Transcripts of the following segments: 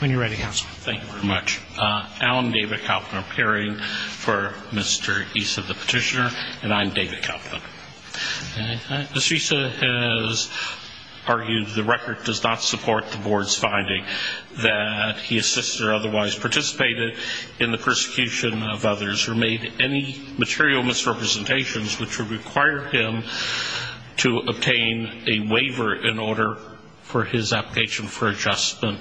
When you're ready, Counselor. Thank you very much. Alan David Kauffman, appearing for Mr. Essa, the petitioner, and I'm David Kauffman. Ms. Essa has argued the record does not support the Board's finding that he, his sister, otherwise participated in the persecution of others who made any material misrepresentations which would require him to obtain a waiver in order for his application for adjustment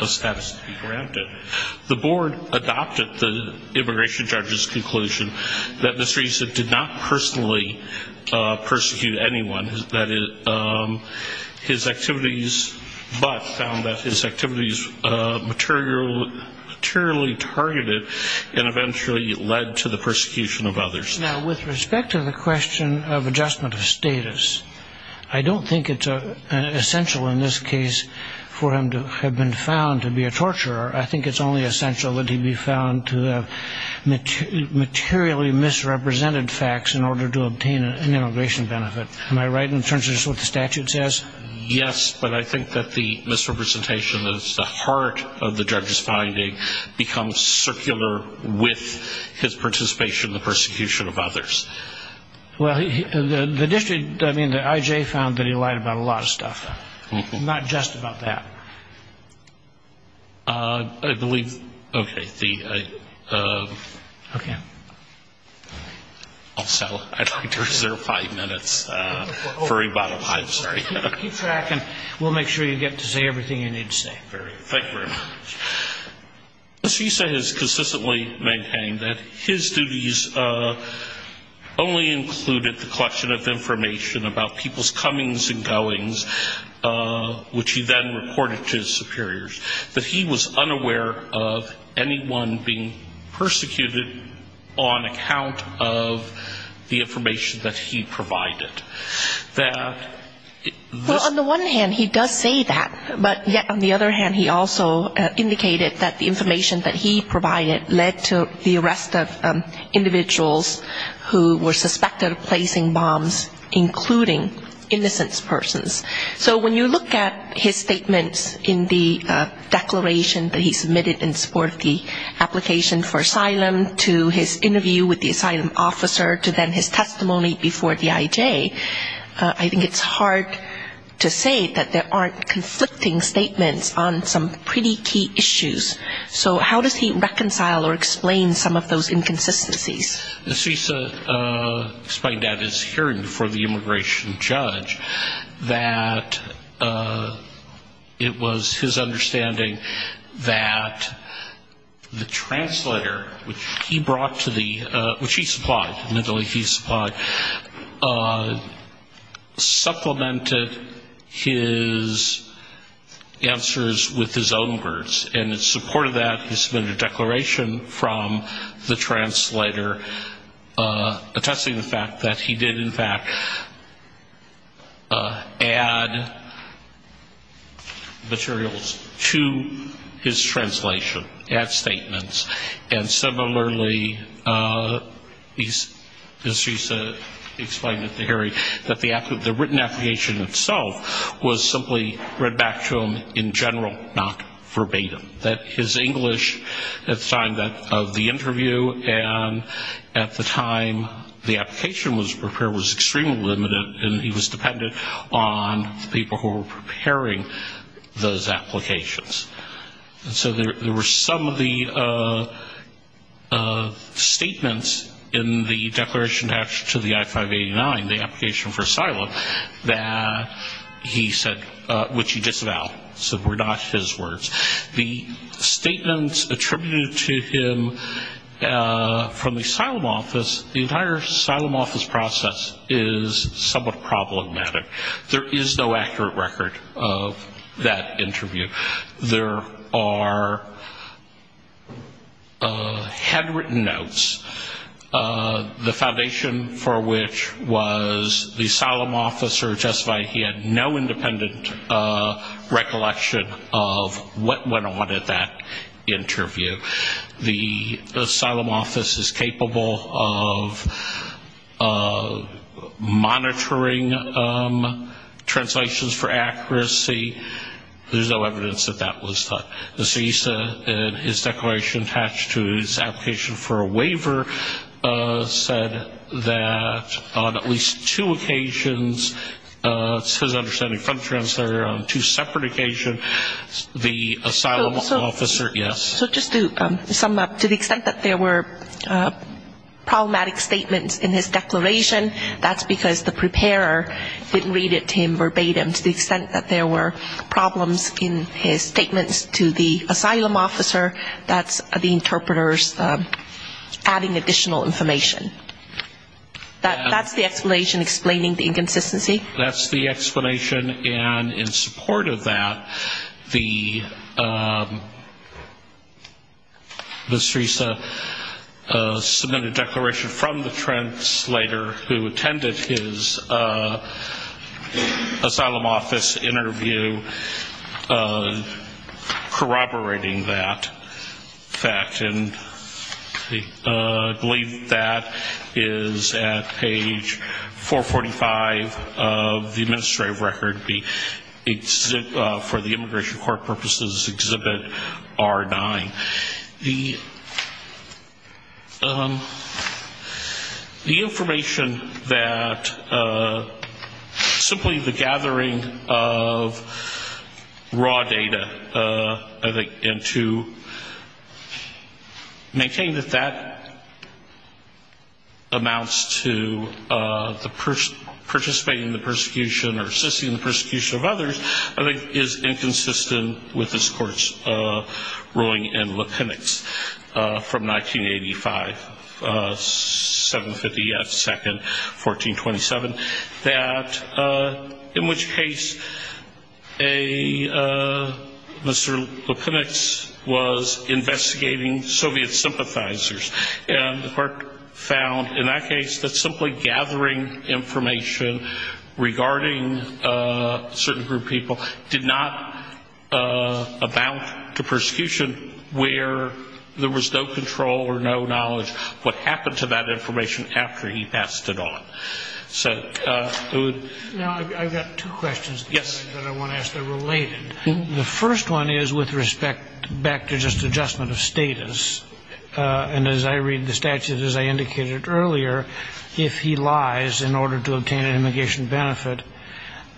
of status to be granted. The Board adopted the immigration judge's conclusion that Mr. Essa did not personally persecute anyone, that his activities, but found that his activities materially targeted and eventually led to the persecution of others. Now, with respect to the question of adjustment of status, I don't think it's essential in this case for him to have been found to be a torturer. I think it's only essential that he be found to have materially misrepresented facts in order to obtain an immigration benefit. Am I right in terms of just what the statute says? Yes, but I think that the misrepresentation is the heart of the judge's finding becomes with his participation in the persecution of others. Well, the district, I mean, the IJ found that he lied about a lot of stuff. Not just about that. I believe, okay. Also, I'd like to reserve five minutes for rebuttal. I'm sorry. Keep track and we'll make sure you get to say everything you need to say. Thank you very much. Mr. Issa has consistently maintained that his duties only included the collection of information about people's comings and goings, which he then reported to his superiors. That he was unaware of anyone being persecuted on account of the information that he provided. Well, on the one hand he does say that, but yet on the other hand he also indicated that the information that he provided led to the arrest of individuals who were suspected of placing bombs, including innocent persons. So when you look at his statements in the declaration that he submitted in support of the application for asylum, to his interview with the asylum officer, to then his testimony before the IJ, I think it's hard to say that there aren't conflicting statements on some pretty key issues. So how does he reconcile or explain some of those inconsistencies? Mr. Issa explained at his hearing before the immigration judge that it was his understanding that the translator, which he brought to the, which he supplied, admittedly he supplied, supplemented his answers with his own words. And in support of that he submitted a declaration from the translator, attesting the fact that he did in fact add materials to his translation, add statements, and similarly, as he explained at the hearing, that the written application itself was simply read back to him in general, not verbatim. That his English at the time of the interview and at the time the application was prepared was extremely limited, and he was dependent on the people who were preparing those applications. So there were some of the statements in the declaration attached to the I-589, the application for asylum, that he said, which he disavowed, so were not his words. The statements attributed to him from the asylum office, the entire asylum office process is somewhat problematic. There is no accurate record of that interview. There are handwritten notes, the foundation for which was the asylum office, or just he had no independent recollection of what went on at that interview. The asylum office is capable of monitoring translations for accuracy. There's no evidence that that was done. The CISA in his declaration attached to his application for a waiver said that on at least two occasions, it's his understanding from the translator, on two separate occasions, the asylum officer, yes. So just to sum up, to the extent that there were problematic statements in his declaration, that's because the preparer didn't read it to him verbatim. To the extent that there were problems in his statements to the asylum officer, that's the interpreters adding additional information. That's the explanation explaining the inconsistency. That's the explanation, and in support of that, the CISA submitted a declaration from the translator who attended his asylum office interview corroborating that fact. And I believe that is at page 445 of the administrative record for the Immigration Court Purposes Exhibit R9. The information that simply the gathering of raw data, I think, into the CISA document, that's the information that maintains that that amounts to participating in the persecution or assisting in the persecution of others, I think is inconsistent with this Court's ruling in Lepenix from 1985, 752nd, 1427, that in which case a, Mr. Lepenix was investigating Soviet sympathizers, and the Court found in that case that simply gathering information regarding a certain group of people did not amount to persecution where there was no control or no knowledge what happened to that information after he passed it on. So it would... Now, I've got two questions that I want to ask that are related. The first one is with respect back to just adjustment of status. And as I read the statute, as I indicated earlier, if he lies in order to obtain an immigration benefit,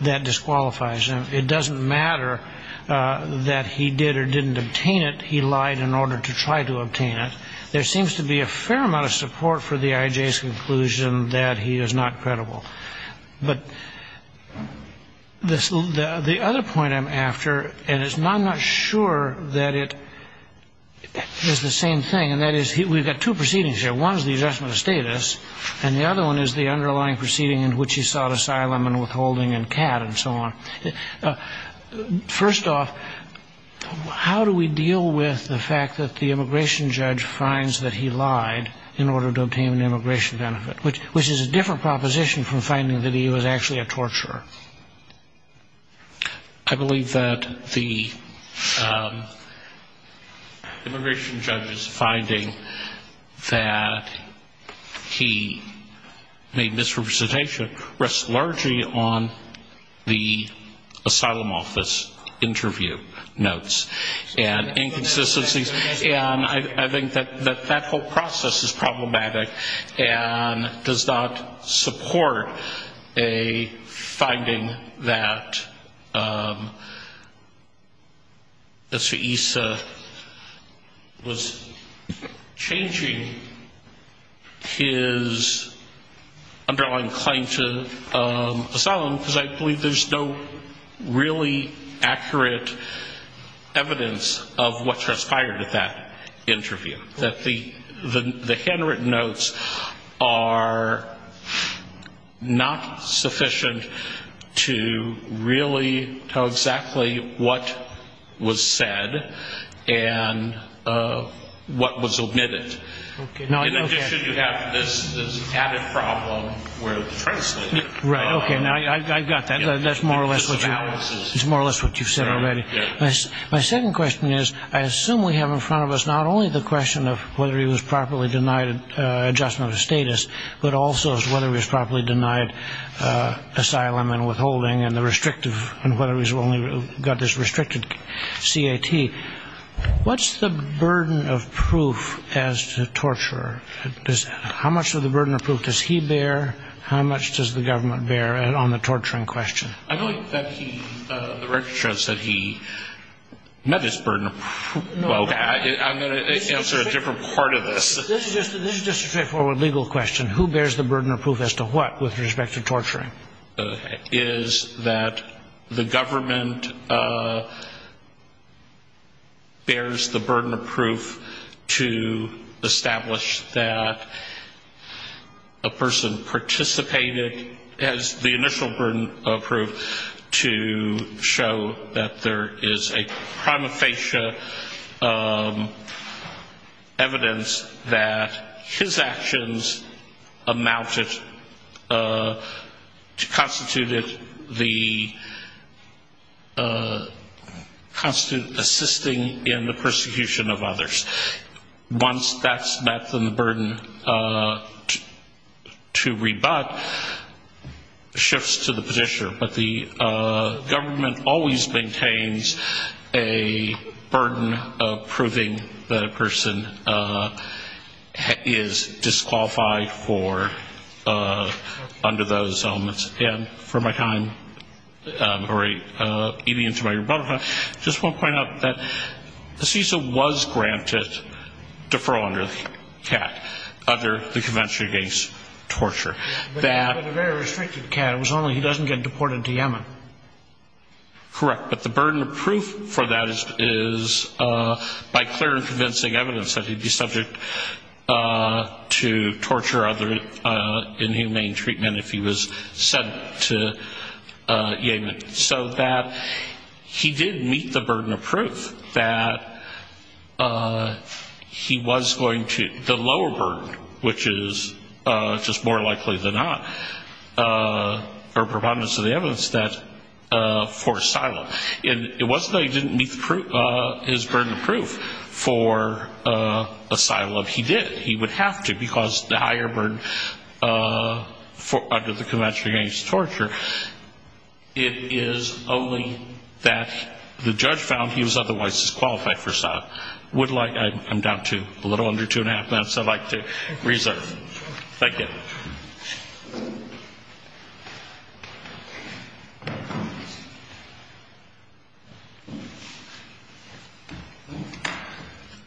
that disqualifies him. It doesn't matter that he did or didn't obtain it. He lied in order to try to obtain it. There seems to be a fair amount of support for the IJ's conclusion that he is not credible. But the other point I'm after, and I'm not sure that it is the same thing, and that is we've got two proceedings here. One is the adjustment of status, and the other one is the underlying proceeding in which he sought asylum and withholding and CAD and so on. First off, how do we deal with the fact that the immigration judge finds that he lied in order to obtain an immigration benefit, which is a different proposition from finding that he was actually a torturer? I believe that the immigration judge's finding that he made this representation rests largely on the asylum office interview notes and inconsistencies. And I think that that whole process is problematic and does not support a finding that Mr. Issa was changing his, I'm sorry, his position on the matter. I'm drawing claim to asylum because I believe there's no really accurate evidence of what transpired at that interview, that the handwritten notes are not sufficient to really tell exactly what was said and what was omitted. In addition, you have this added problem where it was translated. Okay, I've got that. That's more or less what you've said already. My second question is, I assume we have in front of us not only the question of whether he was properly denied adjustment of status, but also whether he was properly denied asylum and withholding and whether he's only got this restricted CAT. What's the burden of proof as to torturer? How much of the burden of proof does he bear? How much does the government bear on the torturing question? I believe that the record shows that he met his burden of proof. I'm going to answer a different part of this. This is just a straightforward legal question. Who bears the burden of proof as to what with respect to torturing? It is that the government bears the burden of proof to establish that a person participated, has the initial burden of proof to show that there is a prima facie evidence that he met his burden of proof. And that his actions amounted, constituted the, constituted assisting in the persecution of others. Once that's met, then the burden to rebut shifts to the petitioner. But the government always maintains a burden of proving that a person has met his burden of proof. And that he is disqualified for, under those elements. And for my time, or even to my rebuttal time, just want to point out that the CISA was granted deferral under the CAT, under the Convention Against Torture. But it was a very restricted CAT. It was only he doesn't get deported to Yemen. Correct. But the burden of proof for that is by clear and convincing evidence that he'd be subject to torture or other inhumane treatment if he was sent to Yemen. So that he did meet the burden of proof that he was going to, the lower burden, which is just more likely than not, or preponderance of the evidence, that for asylum. And it wasn't that he didn't meet his burden of proof for asylum. He did. He would have to, because the higher burden under the Convention Against Torture, it is only that the judge found he was otherwise disqualified for asylum. I'm down to a little under two and a half minutes I'd like to reserve. Thank you.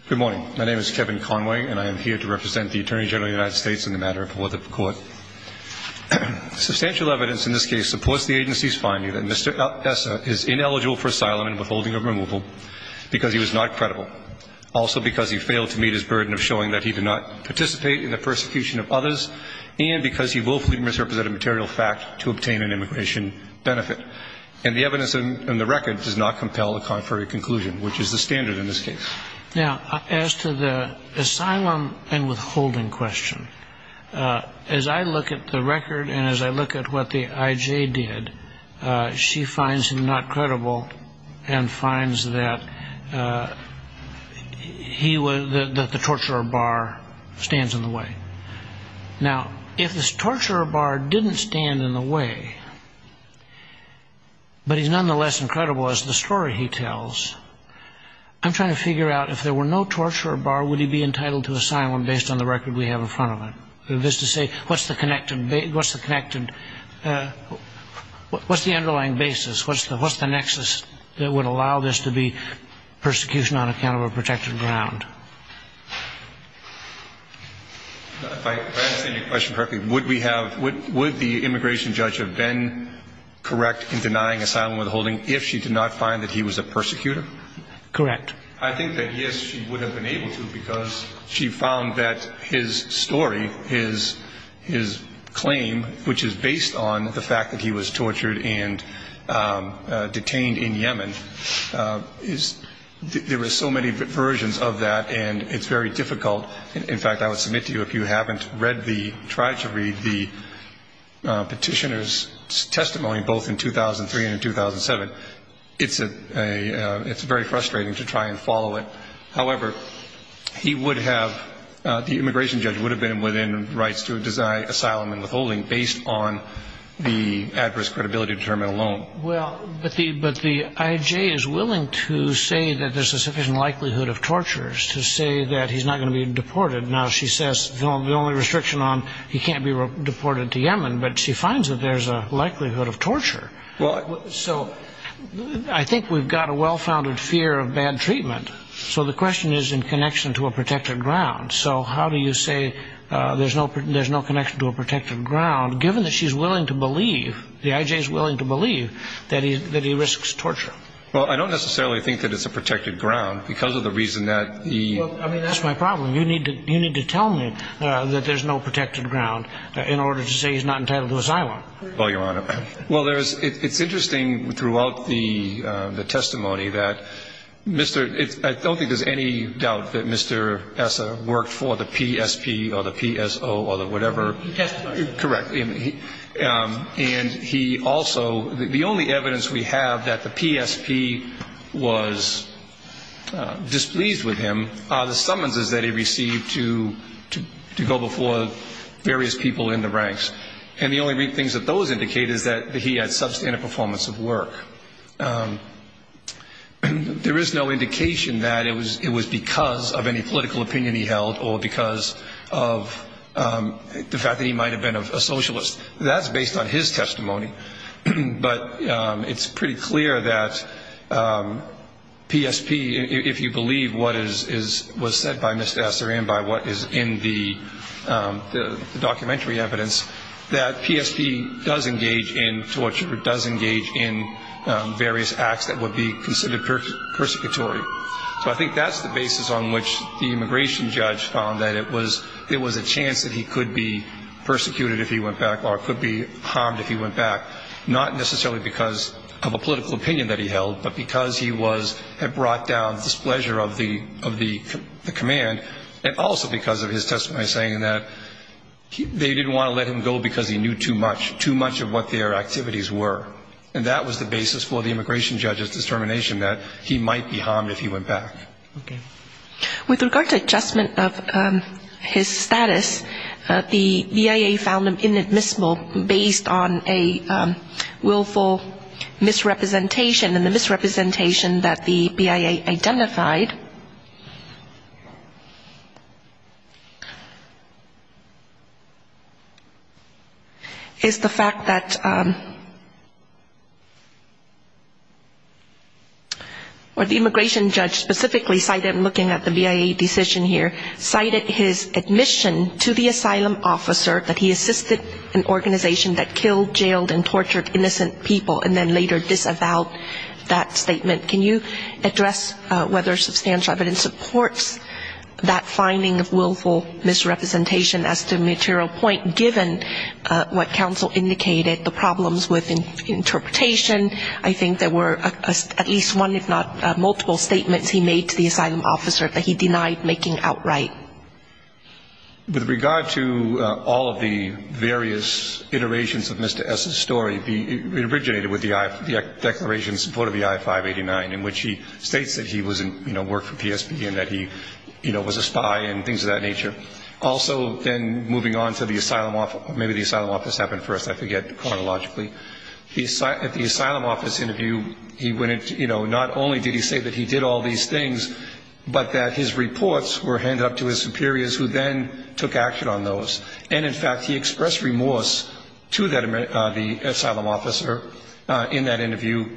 Good morning. My name is Kevin Conway, and I am here to represent the Attorney General of the United States in the matter before the Court. Substantial evidence in this case supports the agency's finding that Mr. Essa is ineligible for asylum and withholding of removal because he was not credible, also because he failed to meet his burden of showing that he did not participate in the persecution of others, and because he willfully misrepresented material fact to obtain an immigration benefit. And the evidence in the record does not compel a contrary conclusion, which is the standard in this case. Now, as to the asylum and withholding question, as I look at the record and as I look at what the I.J. did, she finds him not credible and finds that the torture bar stands in the way. Now, if the torture bar didn't stand in the way, but he's nonetheless incredible as the story he tells, I'm trying to figure out if there were no torture bar, would he be entitled to asylum based on the record we have in front of him? That is to say, what's the underlying basis, what's the nexus that would allow this to be persecution on account of a protected ground? If I understand your question correctly, would the immigration judge have been correct in denying asylum and withholding if she did not find that he was a persecutor? Correct. His claim, which is based on the fact that he was tortured and detained in Yemen, there are so many versions of that, and it's very difficult. In fact, I would submit to you, if you haven't read the, tried to read the petitioner's testimony, both in 2003 and in 2007, it's very frustrating to try and follow it. However, he would have, the immigration judge would have been within rights to desire asylum and withholding based on the adverse credibility determinant alone. Well, but the IJ is willing to say that there's a sufficient likelihood of tortures to say that he's not going to be deported. Now, she says the only restriction on he can't be deported to Yemen, but she finds that there's a likelihood of torture. So I think we've got a well-founded fear of bad treatment. So the question is in connection to a protected ground. So how do you say there's no connection to a protected ground, given that she's willing to believe, the IJ is willing to believe that he risks torture? Well, I don't necessarily think that it's a protected ground because of the reason that he... You need to, you need to tell me that there's no protected ground in order to say he's not entitled to asylum. Well, Your Honor, well, there's, it's interesting throughout the testimony that Mr., I don't think there's any doubt that Mr. Essa worked for the PSP or the PSO or the whatever. Correct. And he also, the only evidence we have that the PSP was displeased with him are the summonses that he received. To go before various people in the ranks. And the only things that those indicate is that he had substantive performance of work. There is no indication that it was because of any political opinion he held or because of the fact that he might have been a socialist. That's based on his testimony. But it's pretty clear that PSP, if you believe what is, was said by Mr. Essa and by what is in the documentary evidence, that PSP does engage in torture, does engage in various acts that would be considered persecutory. So I think that's the basis on which the immigration judge found that it was, it was a chance that he could be persecuted if he went back or could be harmed if he went back. Not necessarily because of a political opinion that he held, but because he was, had brought down displeasure of the, of the command. And also because of his testimony saying that they didn't want to let him go because he knew too much, too much of what their activities were. And that was the basis for the immigration judge's determination that he might be harmed if he went back. Okay. With regard to adjustment of his status, the BIA found him inadmissible based on a willful misrepresentation. And the misrepresentation that the BIA identified is the fact that, or the immigration judge specifically cited, I'm looking at the BIA decision here, cited his admission to the asylum officer that he assisted an organization that killed, jailed and tortured innocent people and then later disavowed that statement. Can you address whether substantial evidence supports that finding of willful misrepresentation as to the material point given what counsel indicated, the problems with interpretation? I think there were at least one, if not multiple, statements he made to the asylum officer that he denied making outright. With regard to all of the various iterations of Mr. S.'s story, it originated with the declarations in support of the I-589, in which he states that he was, you know, worked for PSB and that he, you know, was a spy and things of that nature. Also then moving on to the asylum, maybe the asylum office happened first, I forget chronologically. At the asylum office interview, he went into, you know, not only did he say that he did all these things, but that his reports were handed up to his superiors who then took action on those. And, in fact, he expressed remorse to the asylum officer in that interview.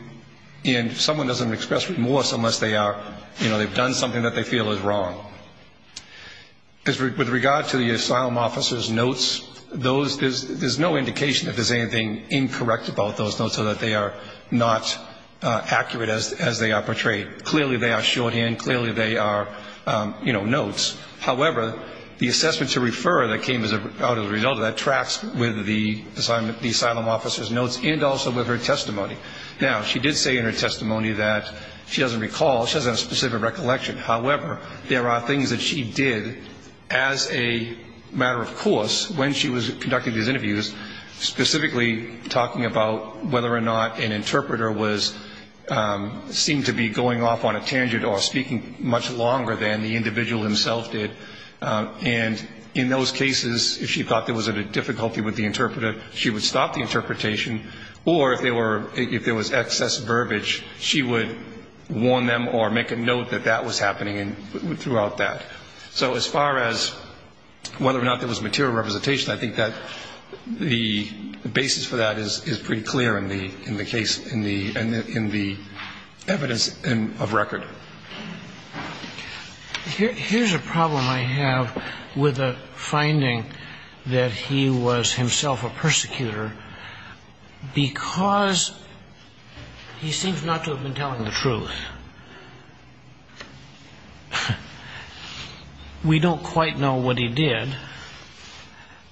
And someone doesn't express remorse unless they are, you know, they've done something that they feel is wrong. With regard to the asylum officer's notes, there's no indication that there's anything incorrect about those notes so that they are not accurate as they are portrayed. Clearly they are shorthand, clearly they are, you know, notes. However, the assessment to refer that came out as a result of that tracks with the asylum officer's notes and also with her testimony. Now, she did say in her testimony that she doesn't recall, she doesn't have a specific recollection. However, there are things that she did as a matter of course when she was conducting these interviews, specifically talking about whether or not an interpreter seemed to be going off on a tangent or speaking much longer than the individual himself did. And in those cases, if she thought there was a difficulty with the interpreter, she would stop the interpretation. Or if there was excess verbiage, she would warn them or make a note that that was happening. And throughout that, so as far as whether or not there was material representation, I think that the basis for that is pretty clear in the case, in the evidence of record. Here's a problem I have with the finding that he was himself a persecutor because he seems not to have been telling the truth. And we don't quite know what he did.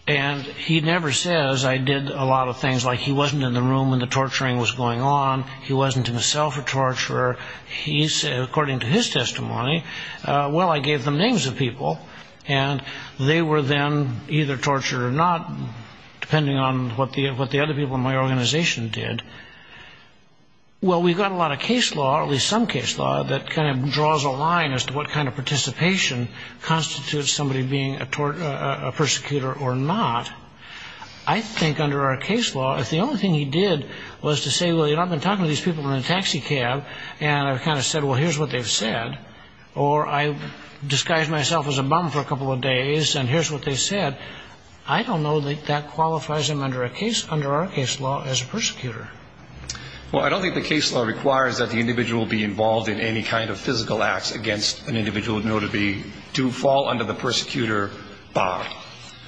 And he never says, I did a lot of things, like he wasn't in the room when the torturing was going on, he wasn't himself a torturer. He said, according to his testimony, well, I gave them names of people, and they were then either tortured or not, depending on what the other people in my organization did. Well, we've got a lot of case law, at least some case law, that kind of draws a line as to what kind of participation constitutes somebody being a torturer, a persecutor, or not. I think under our case law, if the only thing he did was to say, well, you know, I've been talking to these people in a taxi cab, and I've kind of said, well, here's what they've said, or I've disguised myself as a bum for a couple of days, and here's what they said, I don't know that that qualifies him under our case law as a persecutor. Well, I don't think the case law requires that the individual be involved in any kind of physical acts against an individual known to be, to fall under the persecutor bar.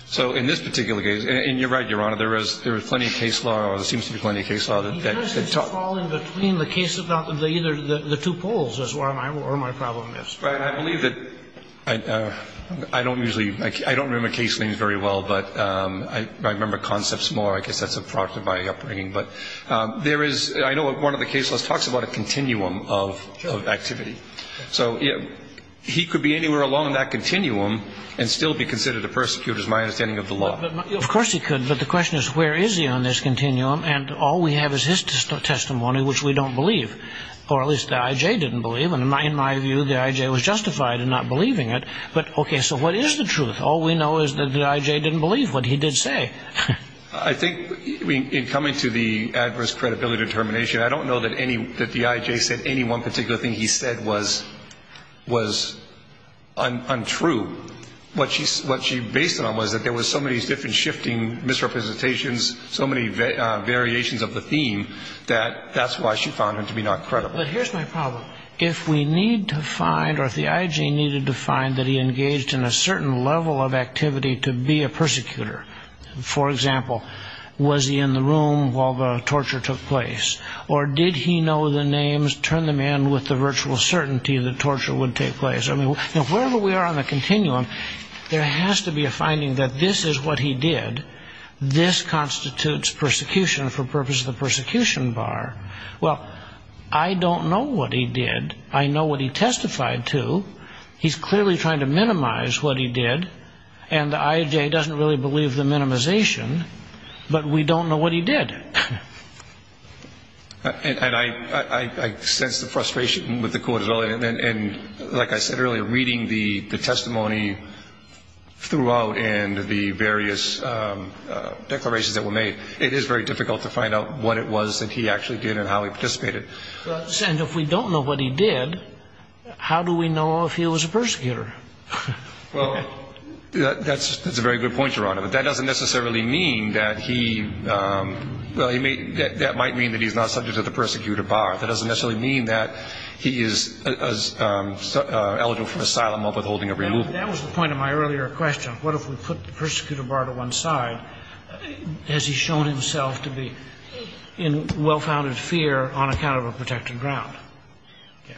So in this particular case, and you're right, Your Honor, there is plenty of case law, or there seems to be plenty of case law. He doesn't fall in between the two poles is where my problem is. Right, and I believe that, I don't usually, I don't remember case names very well, but I remember concepts more, I guess that's a product of my upbringing. But there is, I know one of the case laws talks about a continuum of activity. So he could be anywhere along that continuum and still be considered a persecutor is my understanding of the law. Of course he could, but the question is, where is he on this continuum? And all we have is his testimony, which we don't believe, or at least the I.J. didn't believe. And in my view, the I.J. was justified in not believing it. But, okay, so what is the truth? All we know is that the I.J. didn't believe what he did say. I think in coming to the adverse credibility determination, I don't know that the I.J. said any one particular thing he said was untrue. What she based it on was that there were so many different shifting misrepresentations, so many variations of the theme, that that's why she found him to be not credible. But here's my problem. If we need to find, or if the I.J. needed to find that he engaged in a certain level of activity to be a persecutor, for example, was he in the room while the torture took place? Or did he know the names, turn them in with the virtual certainty that torture would take place? I mean, wherever we are on the continuum, there has to be a finding that this is what he did. This constitutes persecution for purpose of the persecution bar. Well, I don't know what he did. I know what he testified to. He's clearly trying to minimize what he did, and the I.J. doesn't really believe the minimization, but we don't know what he did. And I sense the frustration with the court as well. And like I said earlier, reading the testimony throughout and the various declarations that were made, it is very difficult to find out what it was that he actually did and how he participated. And if we don't know what he did, how do we know if he was a persecutor? Well, that's a very good point, Your Honor. But that doesn't necessarily mean that he – well, that might mean that he's not subject to the persecutor bar. That doesn't necessarily mean that he is eligible for asylum or withholding or removal. That was the point of my earlier question. What if we put the persecutor bar to one side? Has he shown himself to be in well-founded fear on account of a protected ground? Yeah.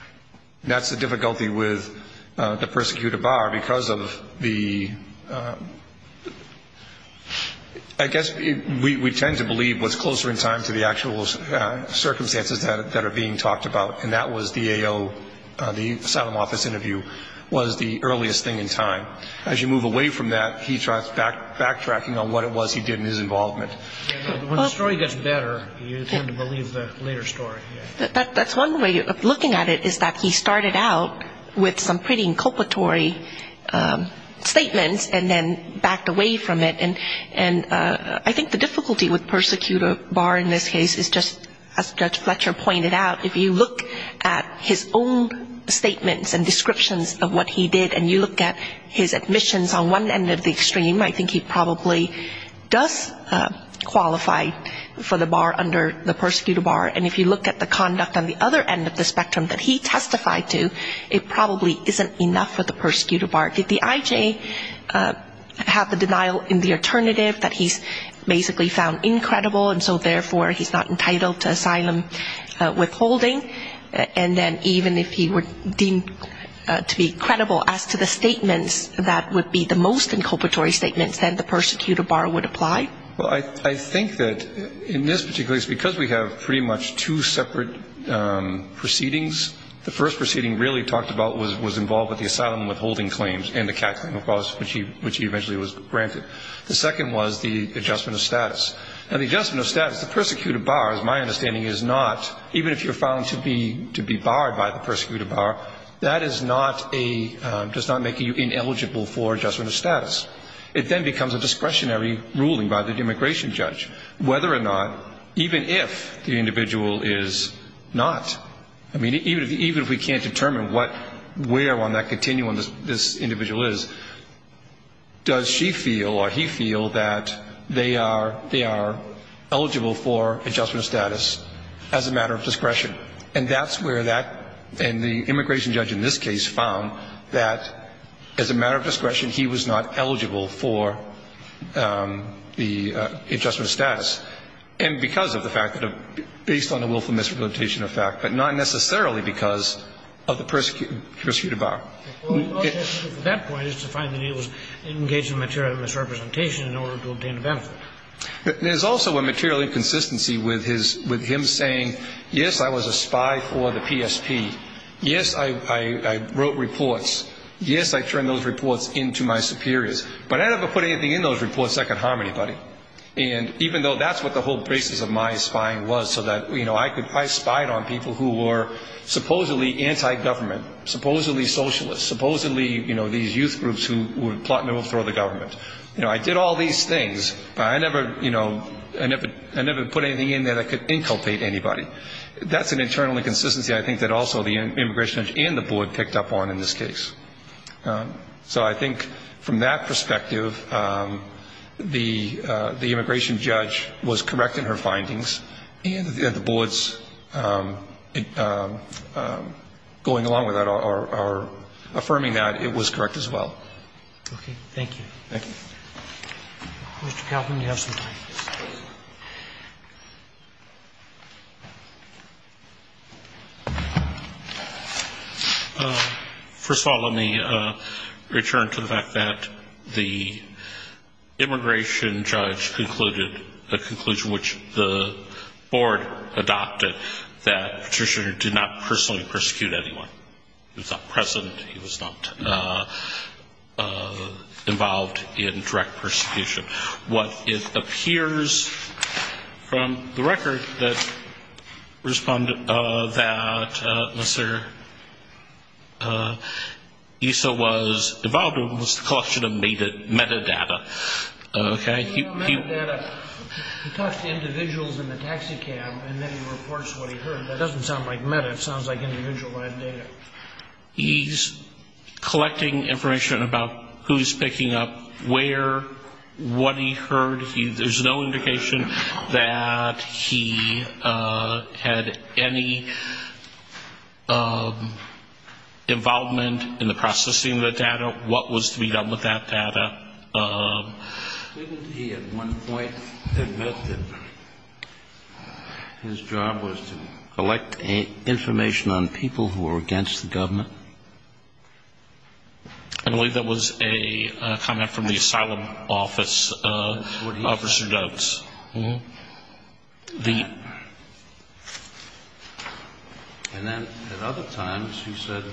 That's the difficulty with the persecutor bar because of the – I guess we tend to believe what's closer in time to the actual circumstances that are being talked about, and that was the A.O. The asylum office interview was the earliest thing in time. As you move away from that, he starts backtracking on what it was he did in his involvement. When the story gets better, you tend to believe the later story. That's one way of looking at it is that he started out with some pretty inculpatory statements and then backed away from it. And I think the difficulty with persecutor bar in this case is just, as Judge Fletcher pointed out, if you look at his own statements and descriptions of what he did and you look at his admissions on one end of the extreme, I think he probably does qualify for the bar under the persecutor bar. And if you look at the conduct on the other end of the spectrum that he testified to, it probably isn't enough for the persecutor bar. Did the I.J. have the denial in the alternative that he's basically found incredible and so therefore he's not entitled to asylum withholding? And then even if he were deemed to be credible as to the statements that would be the most inculpatory statements, then the persecutor bar would apply? Well, I think that in this particular case, because we have pretty much two separate proceedings, the first proceeding really talked about was involved with the asylum withholding claims and the CAT claim, of course, which he eventually was granted. The second was the adjustment of status. And the adjustment of status, the persecutor bar, as my understanding, is not, even if you're found to be barred by the persecutor bar, that does not make you ineligible for adjustment of status. It then becomes a discretionary ruling by the immigration judge, whether or not, even if the individual is not, I mean, even if we can't determine where on that continuum this individual is, does she feel or he feel that they are eligible for adjustment of status as a matter of discretion? And that's where that, and the immigration judge in this case, found that as a matter of discretion he was not eligible for the adjustment of status. And because of the fact that, based on the willful misrepresentation of fact, but not necessarily because of the persecutor bar. At that point it's defined that he was engaged in material misrepresentation in order to obtain a benefit. There's also a material inconsistency with his, with him saying, yes, I was a spy for the PSP. Yes, I wrote reports. Yes, I turned those reports into my superiors. But I never put anything in those reports that could harm anybody. And even though that's what the whole basis of my spying was so that, you know, I spied on people who were supposedly anti-government, supposedly socialists, supposedly, you know, these youth groups who were plotting to overthrow the government. You know, I did all these things, but I never, you know, I never put anything in there that could inculpate anybody. That's an internal inconsistency I think that also the immigration judge and the board picked up on in this case. So I think from that perspective, the immigration judge was correct in her findings, and the boards going along with that are affirming that it was correct as well. Okay. Thank you. Thank you. Mr. Calvin, you have some time. First of all, let me return to the fact that the immigration judge concluded a conclusion which the board adopted, that Petitioner did not personally persecute anyone. He was not present. He was not involved in direct persecution. What it appears from the record that Mr. Issa was involved in was the collection of metadata. Okay. He talks to individuals in the taxi cab, and then he reports what he heard. That doesn't sound like meta. It sounds like individualized data. He's collecting information about who's picking up where, what he heard. There's no indication that he had any involvement in the processing of the data, what was to be done with that data. Didn't he at one point admit that his job was to collect information on people who were against the government? I believe that was a comment from the asylum office, Officer Dougs. And then at other times he said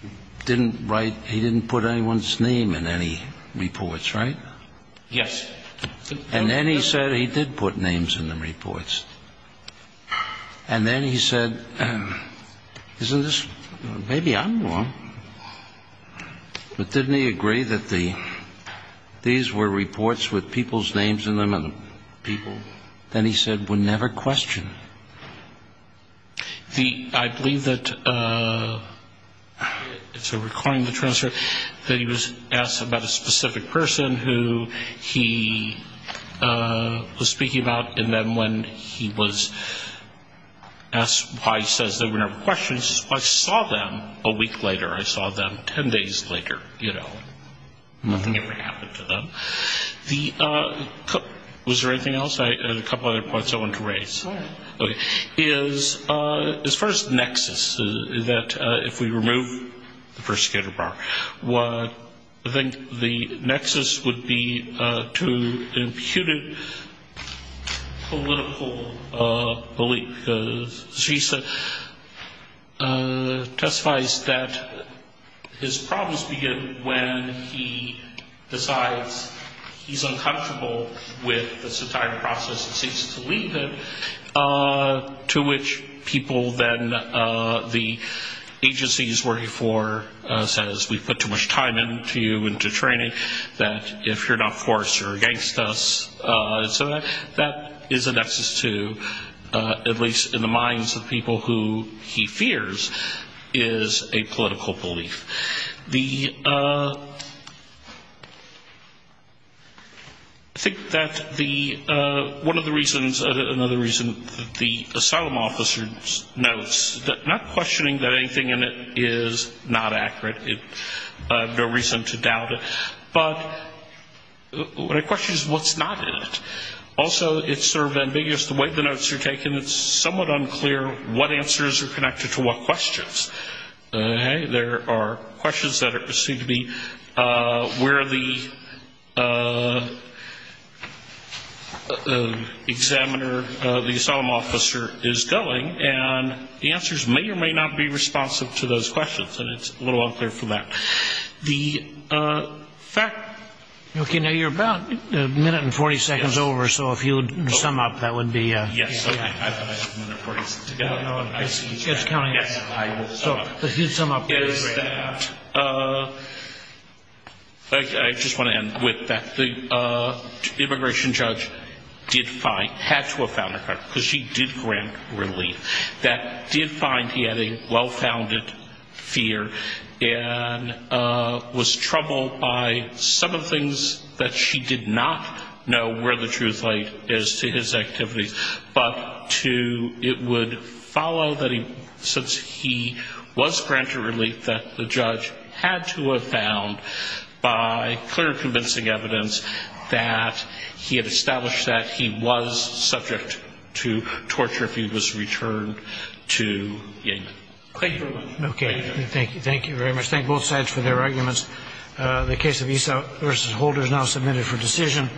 he didn't write, he didn't put anyone's name in any reports, right? Yes. And then he said he did put names in the reports. And then he said, isn't this, maybe I'm wrong. But didn't he agree that these were reports with people's names in them and people, then he said, were never questioned? I believe that, so recalling the transfer, that he was asked about a specific person who he was speaking about, and then when he was asked why he says they were never questioned, I saw them a week later. I saw them ten days later, you know. Nothing ever happened to them. Was there anything else? I had a couple other points I wanted to raise. Sure. His first nexus is that if we remove the persecutor bar, I think the nexus would be to impute a political belief. Because GISA testifies that his problems begin when he decides he's uncomfortable with this entire process and seeks to leave it. To which people then, the agency he's working for says we put too much time into you, into training, that if you're not forced you're against us. So that is a nexus to, at least in the minds of people who he fears, is a political belief. I think that one of the reasons, another reason the asylum officer notes, not questioning that anything in it is not accurate, I have no reason to doubt it, but what I question is what's not in it. Also, it's sort of ambiguous the way the notes are taken. It's somewhat unclear what answers are connected to what questions. There are questions that seem to be where the examiner, the asylum officer is going, and the answers may or may not be responsive to those questions, and it's a little unclear for that. The fact... Okay, now you're about a minute and 40 seconds over, so if you would sum up, that would be... Yes, I thought I had a minute and 40 seconds to go. No, it's counting. Yes, I will sum up. So if you'd sum up. I just want to end with that. The immigration judge did find, had to have found her card, because she did grant relief. That did find he had a well-founded fear and was troubled by some of the things that she did not know were the truth, but it would follow that since he was granted relief that the judge had to have found by clear and convincing evidence that he had established that he was subject to torture if he was returned to England. Thank you. Okay, thank you very much. Thank both sides for their arguments. The case of Esau v. Holder is now submitted for decision.